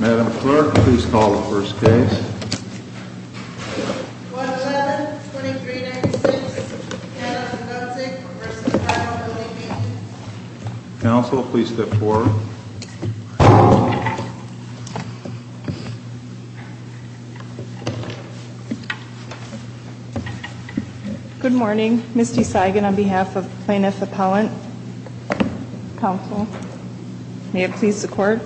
Madam Clerk, please call the first case. 111-2396, Anna Zdunczyk v. Tyler, L.E.D. Counsel, please step forward. Good morning. Misty Saigon on behalf of Plaintiff Appellant. Counsel, may it please the Court.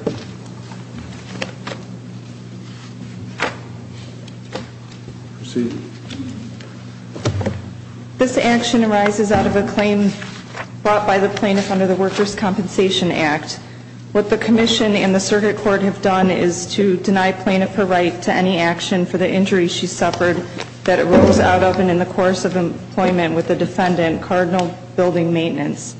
Proceed. This action arises out of a claim brought by the Plaintiff under the Workers' Compensation Act. What the Commission and the Circuit Court have done is to deny Plaintiff her right to any action for the injury she suffered that arose out of and in the course of employment with the defendant, Cardinal Building Maintenance.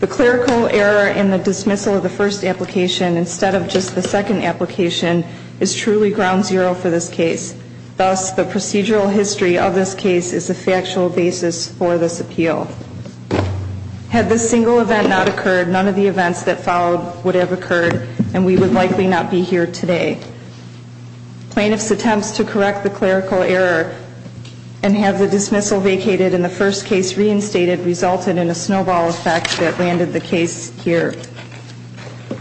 The clerical error in the dismissal of the first application instead of just the second application is truly ground zero for this case. Thus, the procedural history of this case is a factual basis for this appeal. Had this single event not occurred, none of the events that followed would have occurred, and we would likely not be here today. Plaintiff's attempts to correct the clerical error and have the dismissal vacated and the first case reinstated resulted in a snowball effect that landed the case here.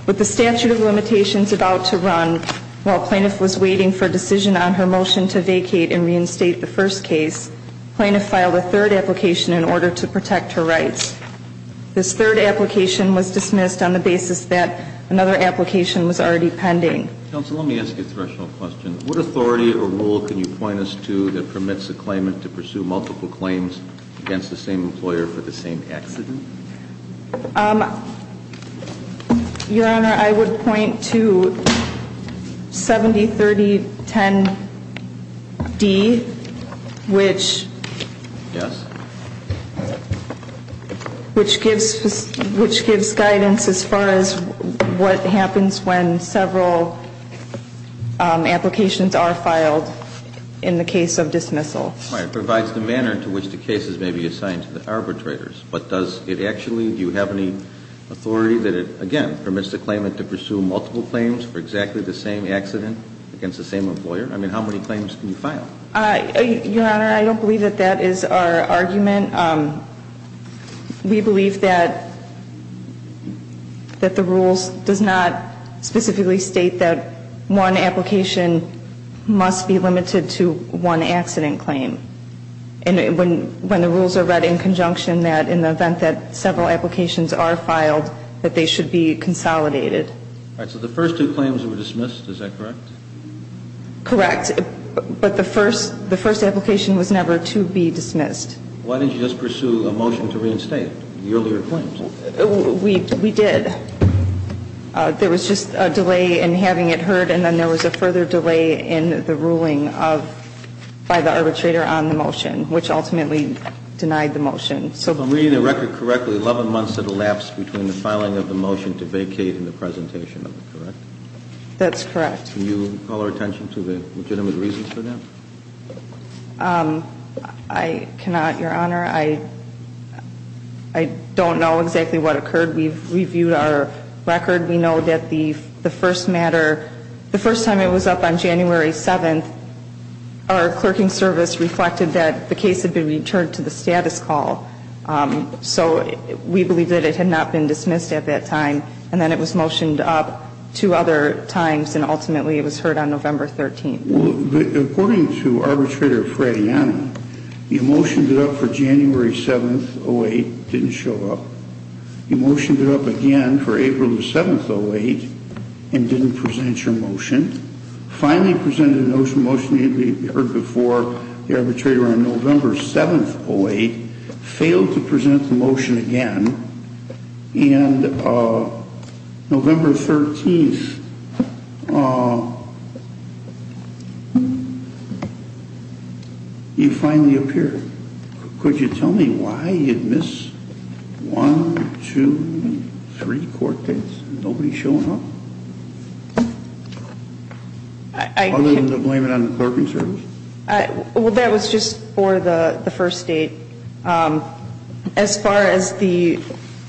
With the statute of limitations about to run, while Plaintiff was waiting for a decision on her motion to vacate and reinstate the first case, Plaintiff filed a third application in order to protect her rights. This third application was dismissed on the basis that another application was already pending. Counsel, let me ask you a threshold question. What authority or rule can you point us to that permits a claimant to pursue multiple claims against the same employer for the same accident? Your Honor, I would point to 703010D, which gives guidance as far as what happens when several applications are filed in the case of dismissal. It provides the manner to which the cases may be assigned to the arbitrators. But does it actually, do you have any authority that it, again, permits the claimant to pursue multiple claims for exactly the same accident against the same employer? I mean, how many claims can you file? Your Honor, I don't believe that that is our argument. We believe that the rules does not specifically state that one application must be limited to one accident claim. And when the rules are read in conjunction, that in the event that several applications are filed, that they should be consolidated. All right. So the first two claims were dismissed. Is that correct? Correct. But the first application was never to be dismissed. Why didn't you just pursue a motion to reinstate the earlier claims? We did. There was just a delay in having it heard, and then there was a further delay in the ruling of, by the arbitrator on the motion, which ultimately denied the motion. If I'm reading the record correctly, 11 months had elapsed between the filing of the motion to vacate and the presentation of it. Correct? That's correct. Can you call our attention to the legitimate reasons for that? I cannot, Your Honor. I don't know exactly what occurred. We've reviewed our record. We know that the first matter, the first time it was up on January 7th, our clerking service reflected that the case had been returned to the status call. So we believe that it had not been dismissed at that time. And then it was motioned up two other times, and ultimately it was heard on November 13th. According to Arbitrator Frattiana, you motioned it up for January 7th, 08, didn't show up. You motioned it up again for April 7th, 08, and didn't present your motion. Finally presented a motion that we heard before the arbitrator on November 7th, 08, failed to present the motion again. And November 13th, you finally appeared. Could you tell me why you'd miss one, two, three court dates and nobody showing up? Other than to blame it on the clerking service? Well, that was just for the first date. As far as the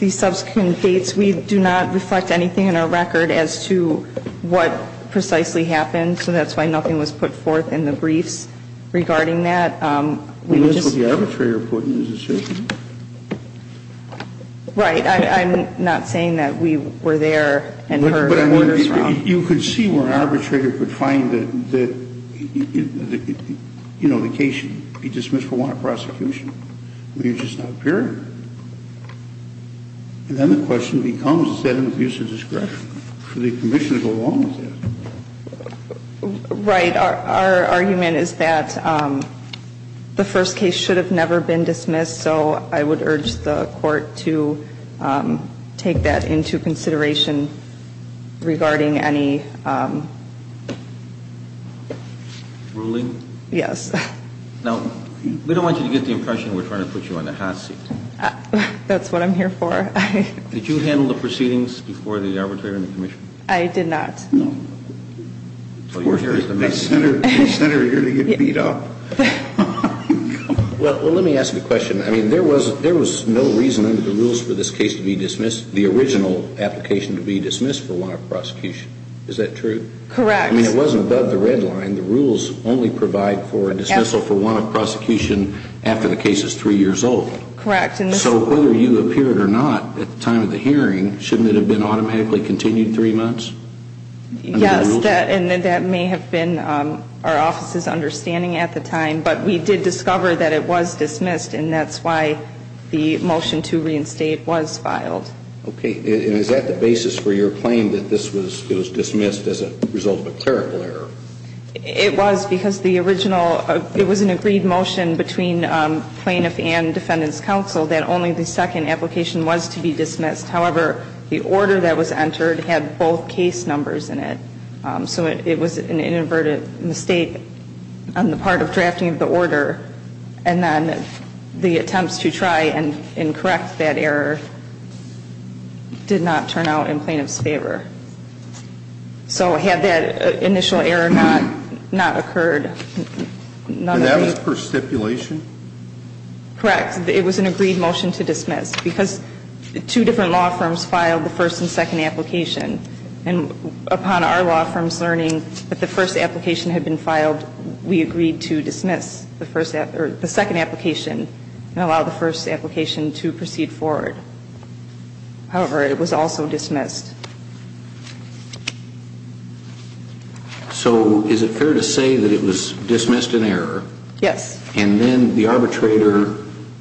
subsequent dates, we do not reflect anything in our record as to what precisely happened. So that's why nothing was put forth in the briefs regarding that. Well, that's what the arbitrator put in his decision. Right. I'm not saying that we were there and heard orders from. You could see where an arbitrator could find that, you know, the case should be dismissed for want of prosecution. You just don't appear. And then the question becomes, is that an abuse of discretion? Should the commission go along with that? Right. Our argument is that the first case should have never been dismissed. So I would urge the court to take that into consideration regarding any. Ruling? Yes. Now, we don't want you to get the impression we're trying to put you on the hot seat. That's what I'm here for. Did you handle the proceedings before the arbitrator and the commission? I did not. No. Senator, you're going to get beat up. Well, let me ask you a question. I mean, there was no reason under the rules for this case to be dismissed, the original application to be dismissed for want of prosecution. Is that true? Correct. I mean, it wasn't above the red line. The rules only provide for dismissal for want of prosecution after the case is three years old. Correct. So whether you appeared or not at the time of the hearing, shouldn't it have been automatically continued three months? Yes, and that may have been our office's understanding at the time. But we did discover that it was dismissed, and that's why the motion to reinstate was filed. Okay. And is that the basis for your claim that this was dismissed as a result of a clerical error? It was because the original, it was an agreed motion between plaintiff and defendant's counsel that only the second application was to be dismissed. However, the order that was entered had both case numbers in it. So it was an inadvertent mistake on the part of drafting the order. And then the attempts to try and correct that error did not turn out in plaintiff's favor. So had that initial error not occurred, none of that. And that was per stipulation? Correct. It was an agreed motion to dismiss because two different law firms filed the first and second application. And upon our law firm's learning that the first application had been filed, we agreed to dismiss the second application and allow the first application to proceed forward. However, it was also dismissed. So is it fair to say that it was dismissed in error? Yes. And then the arbitrator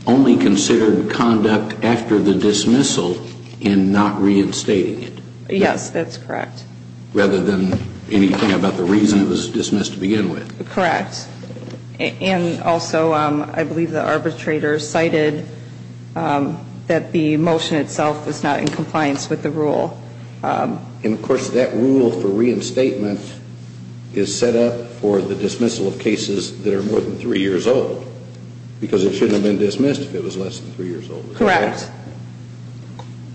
only considered conduct after the dismissal in not reinstating it? Yes, that's correct. Rather than anything about the reason it was dismissed to begin with? Correct. And also, I believe the arbitrator cited that the motion itself was not in compliance with the rule. And, of course, that rule for reinstatement is set up for the dismissal of cases that are more than three years old. Because it shouldn't have been dismissed if it was less than three years old. Correct.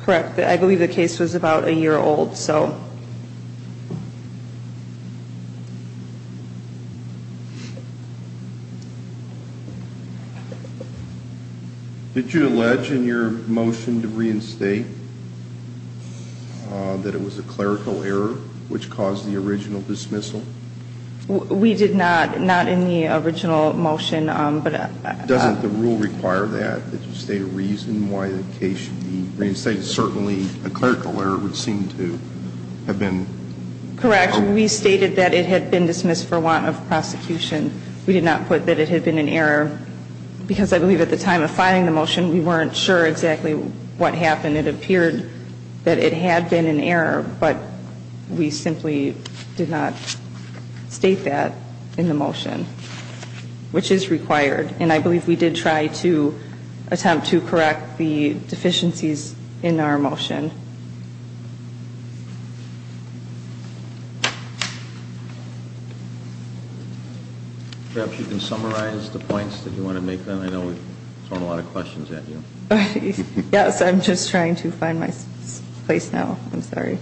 Correct. I believe the case was about a year old. Did you allege in your motion to reinstate that it was a clerical error which caused the original dismissal? We did not, not in the original motion. Doesn't the rule require that, that you state a reason why the case should be reinstated? Certainly a clerical error would seem to have been. Correct. We stated that it had been dismissed for want of prosecution. We did not put that it had been in error. Because I believe at the time of filing the motion, we weren't sure exactly what happened. It appeared that it had been in error. But we simply did not state that in the motion, which is required. And I believe we did try to attempt to correct the deficiencies in our motion. Perhaps you can summarize the points that you want to make. I know we've thrown a lot of questions at you. Yes, I'm just trying to find my place now. I'm sorry.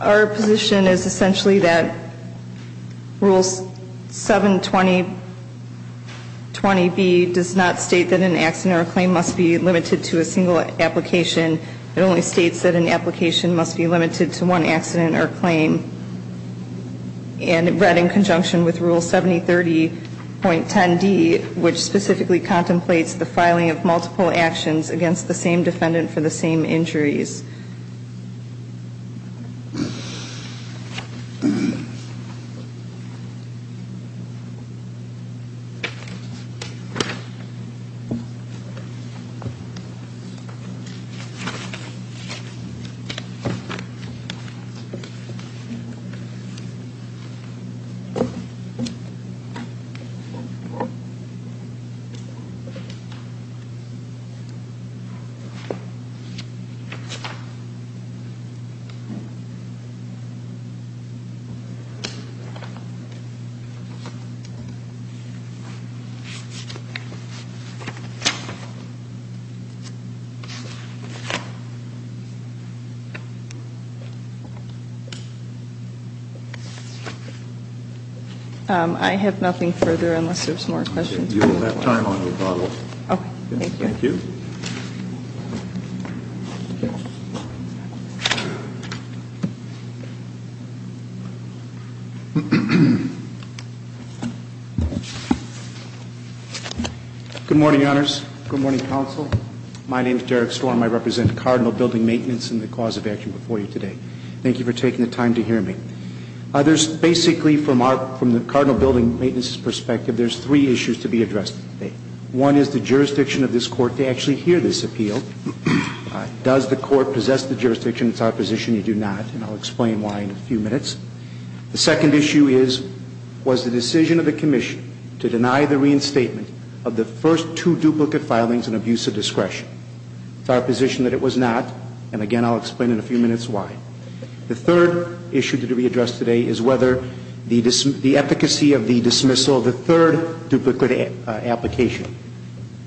Our position is essentially that Rule 720B does not state that an accident or claim must be limited to a single application. It only states that an application must be limited to one accident or claim. And read in conjunction with Rule 7030.10d, which specifically contemplates the filing of multiple actions against the same defendant for the same injuries. Thank you. I have nothing further unless there's more questions. You will have time on your bottle. Okay. Thank you. Thank you. Good morning, Honors. Good morning, Counsel. My name is Derek Storm. I represent Cardinal Building Maintenance and the cause of action before you today. Thank you for taking the time to hear me. There's basically, from the Cardinal Building Maintenance's perspective, there's three issues to be addressed today. One is the jurisdiction of this Court to actually hear this appeal. Does the Court possess the jurisdiction? It's our position you do not. And I'll explain why in a few minutes. The second issue is, was the decision of the Commission to deny the reinstatement of the first two duplicate filings an abuse of discretion? It's our position that it was not. And, again, I'll explain in a few minutes why. The third issue to be addressed today is whether the efficacy of the dismissal of the third duplicate application.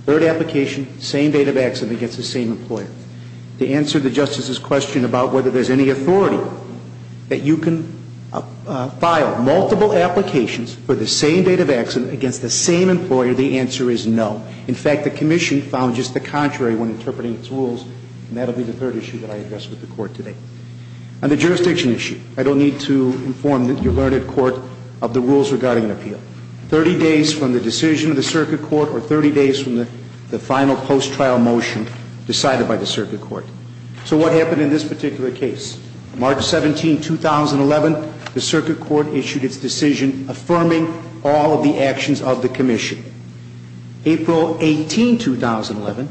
Third application, same date of accident against the same employer. To answer the Justice's question about whether there's any authority that you can file multiple applications for the same date of accident against the same employer, the answer is no. In fact, the Commission found just the contrary when interpreting its rules. And that will be the third issue that I address with the Court today. On the jurisdiction issue, I don't need to inform your learned Court of the rules regarding an appeal. Thirty days from the decision of the Circuit Court or 30 days from the final post-trial motion decided by the Circuit Court. So what happened in this particular case? March 17, 2011, the Circuit Court issued its decision affirming all of the actions of the Commission. April 18, 2011,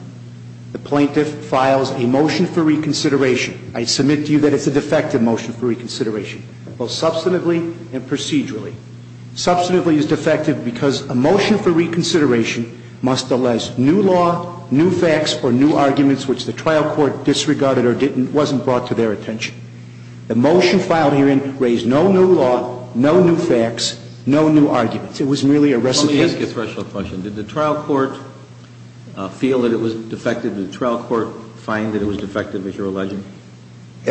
the plaintiff files a motion for reconsideration. I submit to you that it's a defective motion for reconsideration, both substantively and procedurally. Substantively is defective because a motion for reconsideration must allege new law, new facts, or new arguments, which the trial court disregarded or wasn't brought to their attention. The motion filed herein raised no new law, no new facts, no new arguments. It was merely a recitation. Let me ask you a threshold question. Did the trial court feel that it was defective? Did the trial court find that it was defective, as you're alleging?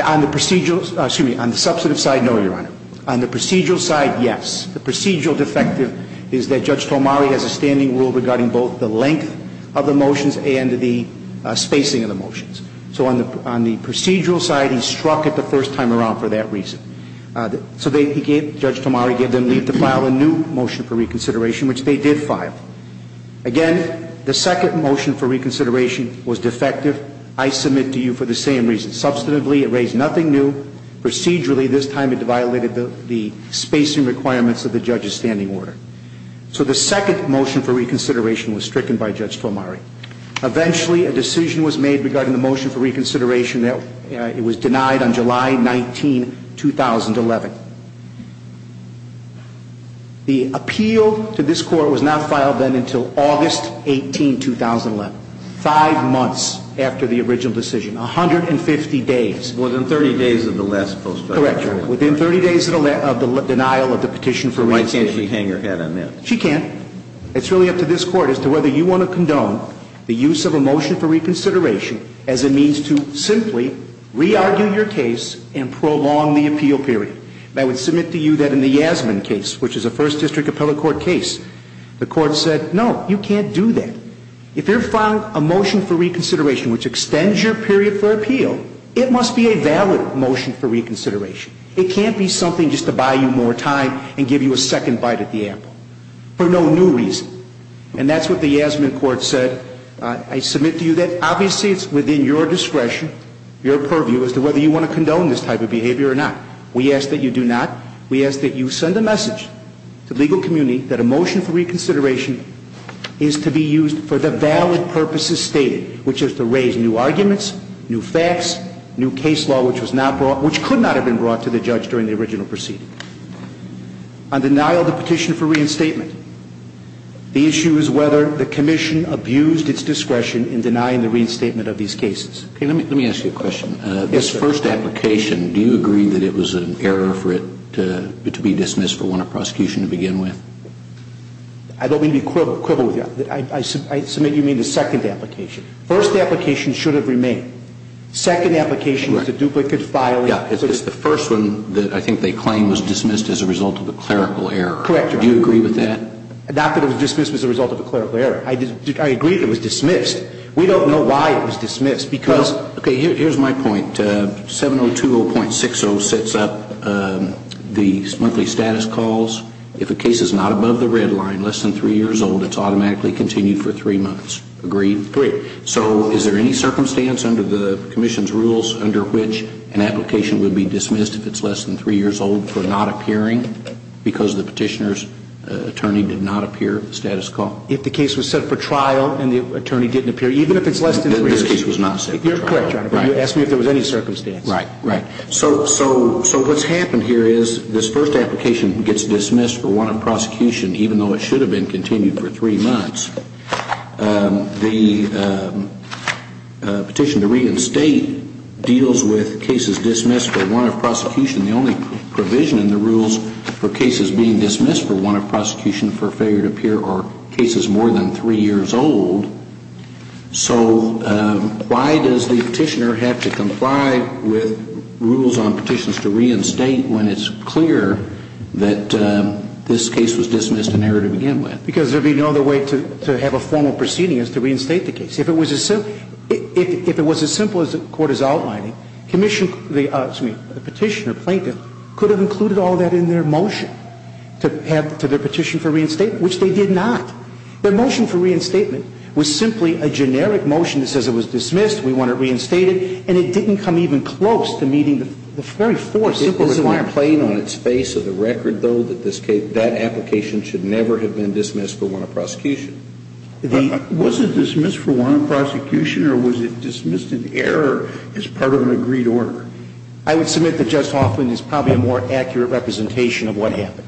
On the procedural side, yes. The procedural defective is that Judge Tomari has a standing rule regarding both the length of the motions and the spacing of the motions. So on the procedural side, he struck it the first time around for that reason. So Judge Tomari gave them leave to file a new motion for reconsideration, which they did file. Again, the second motion for reconsideration was defective. I submit to you for the same reasons. Substantively, it raised nothing new. Procedurally, this time it violated the spacing requirements of the judge's standing order. So the second motion for reconsideration was stricken by Judge Tomari. Eventually, a decision was made regarding the motion for reconsideration. It was denied on July 19, 2011. The appeal to this court was not filed then until August 18, 2011, five months after the original decision, 150 days. Within 30 days of the last post-trial trial. Correct, Your Honor. Within 30 days of the denial of the petition for reconsideration. So why can't she hang her head on that? She can't. It's really up to this court as to whether you want to condone the use of a motion for reconsideration as a means to simply re-argue your case and prolong the appeal period. I would submit to you that in the Yasmin case, which is a First District Appellate Court case, the court said, no, you can't do that. If you're filing a motion for reconsideration which extends your period for appeal, it must be a valid motion for reconsideration. It can't be something just to buy you more time and give you a second bite at the apple. For no new reason. And that's what the Yasmin court said. I submit to you that obviously it's within your discretion, your purview, as to whether you want to condone this type of behavior or not. We ask that you do not. We ask that you send a message to the legal community that a motion for reconsideration is to be used for the valid purposes stated, which is to raise new arguments, new facts, new case law which was not brought, which could not have been brought to the judge during the original proceeding. On denial of the petition for reinstatement, the issue is whether the commission abused its discretion in denying the reinstatement of these cases. Let me ask you a question. Yes, sir. This first application, do you agree that it was an error for it to be dismissed for want of prosecution to begin with? I don't mean to be quibble with you. I submit you mean the second application. First application should have remained. Second application was a duplicate filing. It's the first one that I think they claim was dismissed as a result of a clerical error. Correct. Do you agree with that? Not that it was dismissed as a result of a clerical error. I agree it was dismissed. We don't know why it was dismissed. Okay. Here's my point. 7020.60 sets up the monthly status calls. If a case is not above the red line, less than three years old, it's automatically continued for three months. Agreed? Agreed. So is there any circumstance under the commission's rules under which an application would be dismissed if it's less than three years old for not appearing because the petitioner's attorney did not appear at the status call? If the case was set for trial and the attorney didn't appear, even if it's less than three years. Then this case was not set for trial. You're correct, Your Honor. You asked me if there was any circumstance. Right. Right. So what's happened here is this first application gets dismissed for want of prosecution, even though it should have been continued for three months. The petition to reinstate deals with cases dismissed for want of prosecution. The only provision in the rules for cases being dismissed for want of prosecution for failure to appear are cases more than three years old. So why does the petitioner have to comply with rules on petitions to reinstate when it's clear that this case was dismissed and error to begin with? Because there'd be no other way to have a formal proceeding as to reinstate the case. If it was as simple as the Court is outlining, the petitioner, plaintiff, could have included all that in their motion to their petition for reinstatement, which they did not. Their motion for reinstatement was simply a generic motion that says it was dismissed, we want it reinstated, and it didn't come even close to meeting the very four simple requirements. There's no complaint on its face of the record though that this case, that application, should never have been dismissed for want of prosecution. Was it dismissed for want of prosecution or was it dismissed in error as part of an agreed order? I would submit that Judge Hoffman is probably a more accurate representation of what happened.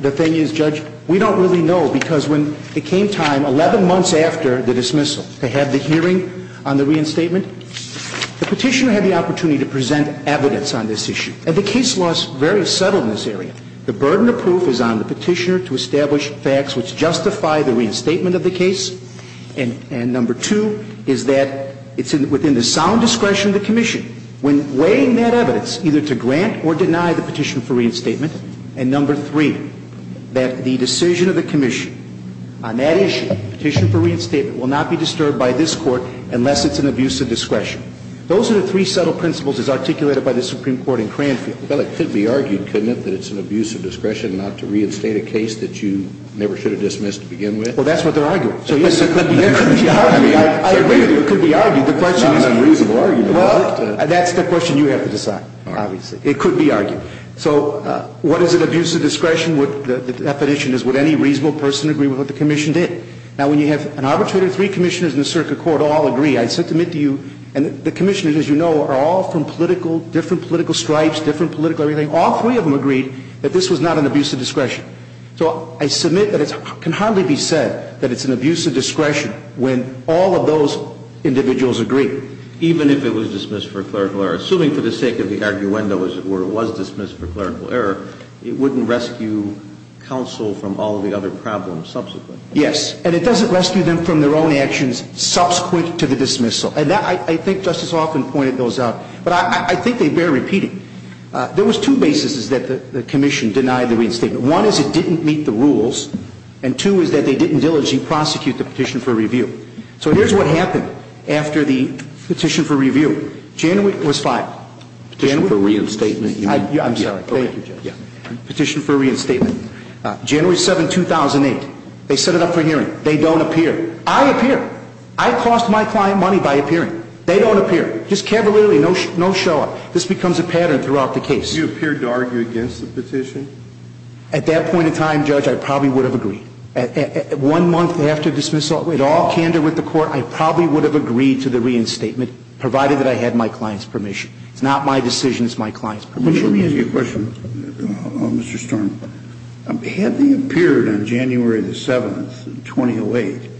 The thing is, Judge, we don't really know because when it came time 11 months after the dismissal to have the hearing on the reinstatement, the petitioner had the opportunity to present evidence on this issue. And the case law is very subtle in this area. The burden of proof is on the petitioner to establish facts which justify the reinstatement of the case. And number two is that it's within the sound discretion of the commission when weighing that evidence, either to grant or deny the petition for reinstatement. And number three, that the decision of the commission on that issue, petition for reinstatement, will not be disturbed by this Court unless it's an abuse of discretion. Those are the three subtle principles as articulated by the Supreme Court in Cranfield. Well, it could be argued, couldn't it, that it's an abuse of discretion not to reinstate a case that you never should have dismissed to begin with? Well, that's what they're arguing. So, yes, it could be argued. I agree that it could be argued. It's not an unreasonable argument. It could be argued. So what is an abuse of discretion? The definition is would any reasonable person agree with what the commission did? Now, when you have an arbitrator, three commissioners in the circuit court all agree. I submit to you, and the commissioners, as you know, are all from different political stripes, different political everything. All three of them agreed that this was not an abuse of discretion. So I submit that it can hardly be said that it's an abuse of discretion when all of those individuals agree. Even if it was dismissed for clerical error, assuming for the sake of the arguendo, as it were, it was dismissed for clerical error, it wouldn't rescue counsel from all of the other problems subsequently. Yes. And it doesn't rescue them from their own actions subsequent to the dismissal. And that, I think Justice Offen pointed those out. But I think they bear repeating. There was two bases that the commission denied the reinstatement. One is it didn't meet the rules, and two is that they didn't diligently prosecute the petition for review. So here's what happened after the petition for review. January was 5. Petition for reinstatement. I'm sorry. Thank you, Judge. Petition for reinstatement. January 7, 2008. They set it up for hearing. They don't appear. I appear. I cost my client money by appearing. They don't appear. Just cavalierly, no show up. This becomes a pattern throughout the case. You appeared to argue against the petition? At that point in time, Judge, I probably would have agreed. One month after dismissal, at all candor with the court, I probably would have agreed to the reinstatement, provided that I had my client's permission. It's not my decision. It's my client's permission. Let me ask you a question, Mr. Storm. Had they appeared on January 7, 2008,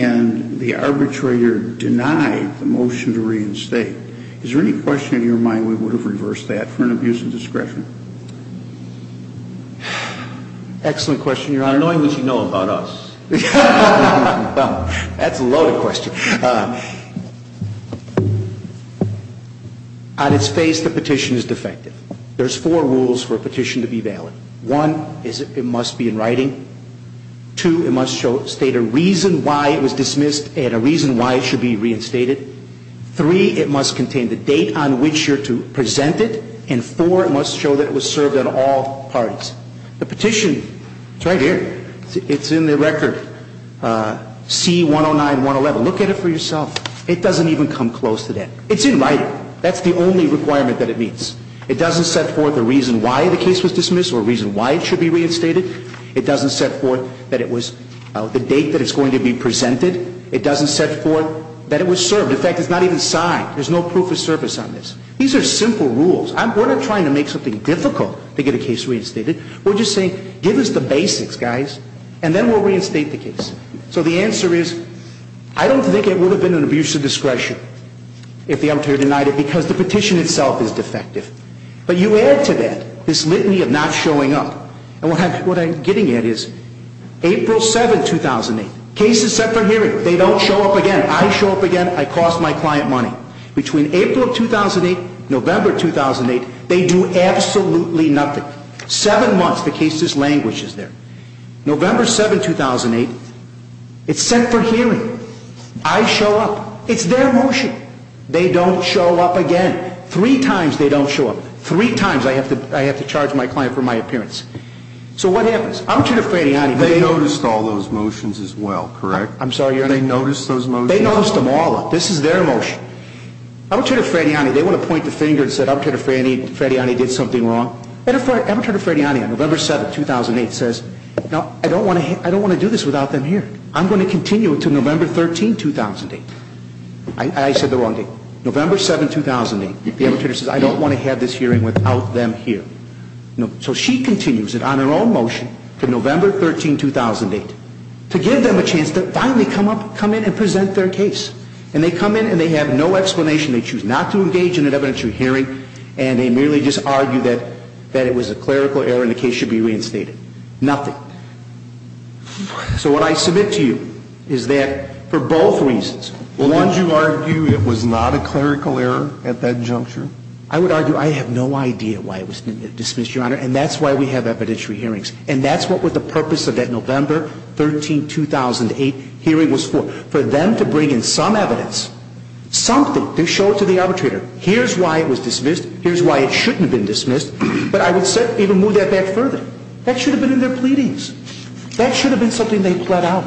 and the arbitrator denied the motion to reinstate, is there any question in your mind we would have reversed that for an abuse of discretion? Excellent question, Your Honor. Your Honor, knowing what you know about us. That's a loaded question. On its face, the petition is defective. There's four rules for a petition to be valid. One is it must be in writing. Two, it must state a reason why it was dismissed and a reason why it should be reinstated. Three, it must contain the date on which you're to present it. And four, it must show that it was served on all parties. The petition is right here. It's in the record. C-109-111. Look at it for yourself. It doesn't even come close to that. It's in writing. That's the only requirement that it meets. It doesn't set forth a reason why the case was dismissed or a reason why it should be reinstated. It doesn't set forth that it was the date that it's going to be presented. It doesn't set forth that it was served. In fact, it's not even signed. There's no proof of service on this. These are simple rules. We're not trying to make something difficult to get a case reinstated. We're just saying, give us the basics, guys, and then we'll reinstate the case. So the answer is, I don't think it would have been an abuse of discretion if the employer denied it because the petition itself is defective. But you add to that this litany of not showing up. And what I'm getting at is April 7, 2008, case is set for hearing. They don't show up again. I show up again. I cost my client money. Between April of 2008, November of 2008, they do absolutely nothing. Seven months, the case is languished there. November 7, 2008, it's set for hearing. I show up. It's their motion. They don't show up again. Three times they don't show up. Three times I have to charge my client for my appearance. So what happens? I'm too afraid. They noticed all those motions as well, correct? I'm sorry, your name? They noticed those motions? They noticed them all. This is their motion. Apprentice Frediani, they want to point the finger and say Apprentice Frediani did something wrong. Apprentice Frediani on November 7, 2008 says, no, I don't want to do this without them here. I'm going to continue it to November 13, 2008. I said the wrong date. November 7, 2008, the apprentice says, I don't want to have this hearing without them here. So she continues it on her own motion to November 13, 2008 to give them a chance to finally come in and present their case. And they come in and they have no explanation. They choose not to engage in an evidentiary hearing. And they merely just argue that it was a clerical error and the case should be reinstated. Nothing. So what I submit to you is that for both reasons. Won't you argue it was not a clerical error at that juncture? I would argue I have no idea why it was dismissed, your Honor. And that's why we have evidentiary hearings. And that's what the purpose of that November 13, 2008 hearing was for. For them to bring in some evidence, something, to show it to the arbitrator. Here's why it was dismissed. Here's why it shouldn't have been dismissed. But I would even move that back further. That should have been in their pleadings. That should have been something they pled out.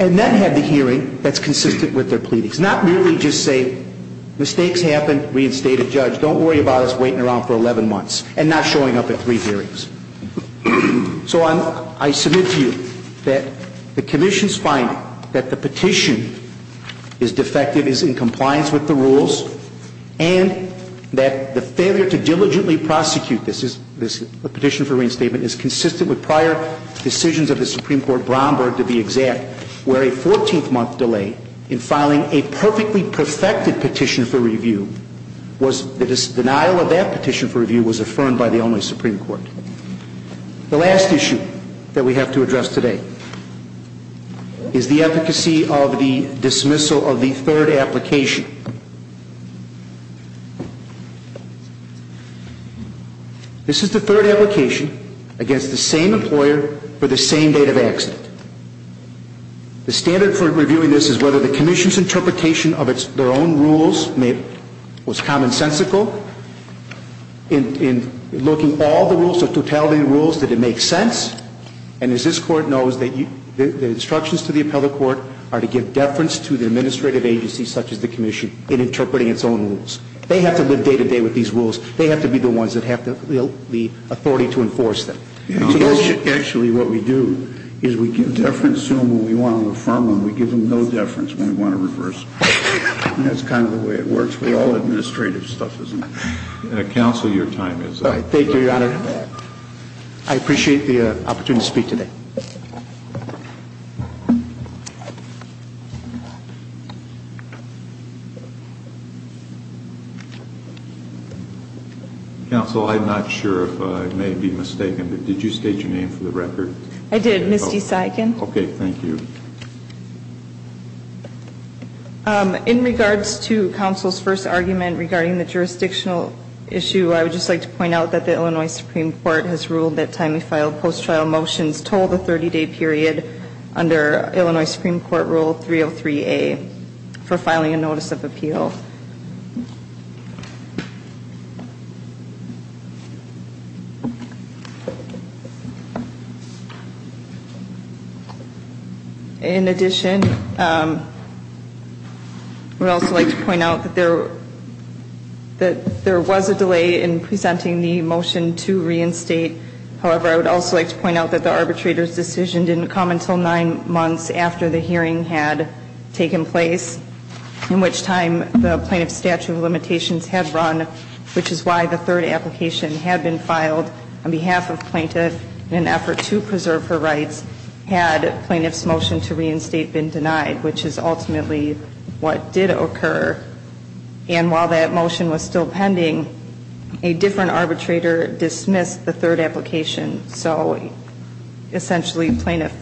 And then have the hearing that's consistent with their pleadings. Not merely just say, mistakes happen, reinstate a judge. Don't worry about us waiting around for 11 months and not showing up at three hearings. So I submit to you that the commission's finding that the petition is defective, is in compliance with the rules, and that the failure to diligently prosecute this petition for reinstatement is consistent with prior decisions of the Supreme Court, Bromberg to be exact, where a 14-month delay in filing a perfectly perfected petition for review was the denial of that petition for review was affirmed by the only Supreme Court. The last issue that we have to address today is the efficacy of the dismissal of the third application. This is the third application against the same employer for the same date of accident. The standard for reviewing this is whether the commission's interpretation of their own rules was commonsensical. In looking at all the rules, the totality of the rules, did it make sense? And as this Court knows, the instructions to the appellate court are to give deference to the administrative agency such as the commission in interpreting its own rules. They have to live day-to-day with these rules. They have to be the ones that have the authority to enforce them. Actually, what we do is we give deference to them when we want to affirm them. We give them no deference when we want to reverse it. That's kind of the way it works with all administrative stuff, isn't it? Counsel, your time is up. Thank you, Your Honor. I appreciate the opportunity to speak today. Counsel, I'm not sure if I may be mistaken, but did you state your name for the record? I did, Misty Saigon. Okay, thank you. In regards to counsel's first argument regarding the jurisdictional issue, I would just like to point out that the Illinois Supreme Court has ruled that time we filed post-trial motions told the 30-day period under Illinois Supreme Court Rule 303A for filing a notice of appeal. Thank you, counsel. In addition, I would also like to point out that there was a delay in presenting the motion to reinstate. However, I would also like to point out that the arbitrator's decision didn't come until nine months after the hearing had taken place, in which time the plaintiff's statute of limitations had run, which is why the third application had been filed on behalf of plaintiff in an effort to preserve her rights had plaintiff's motion to reinstate been denied, which is ultimately what did occur. And while that motion was still pending, a different arbitrator dismissed the third application. So essentially, plaintiff,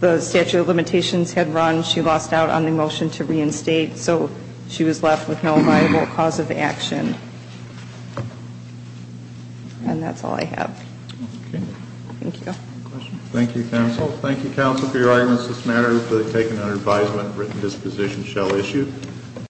the statute of limitations had run. She lost out on the motion to reinstate. So she was left with no viable cause of action. And that's all I have. Okay. Thank you. Any questions? Thank you, counsel. Thank you, counsel, for your arguments. This matter has been taken under advisement. Written disposition shall issue.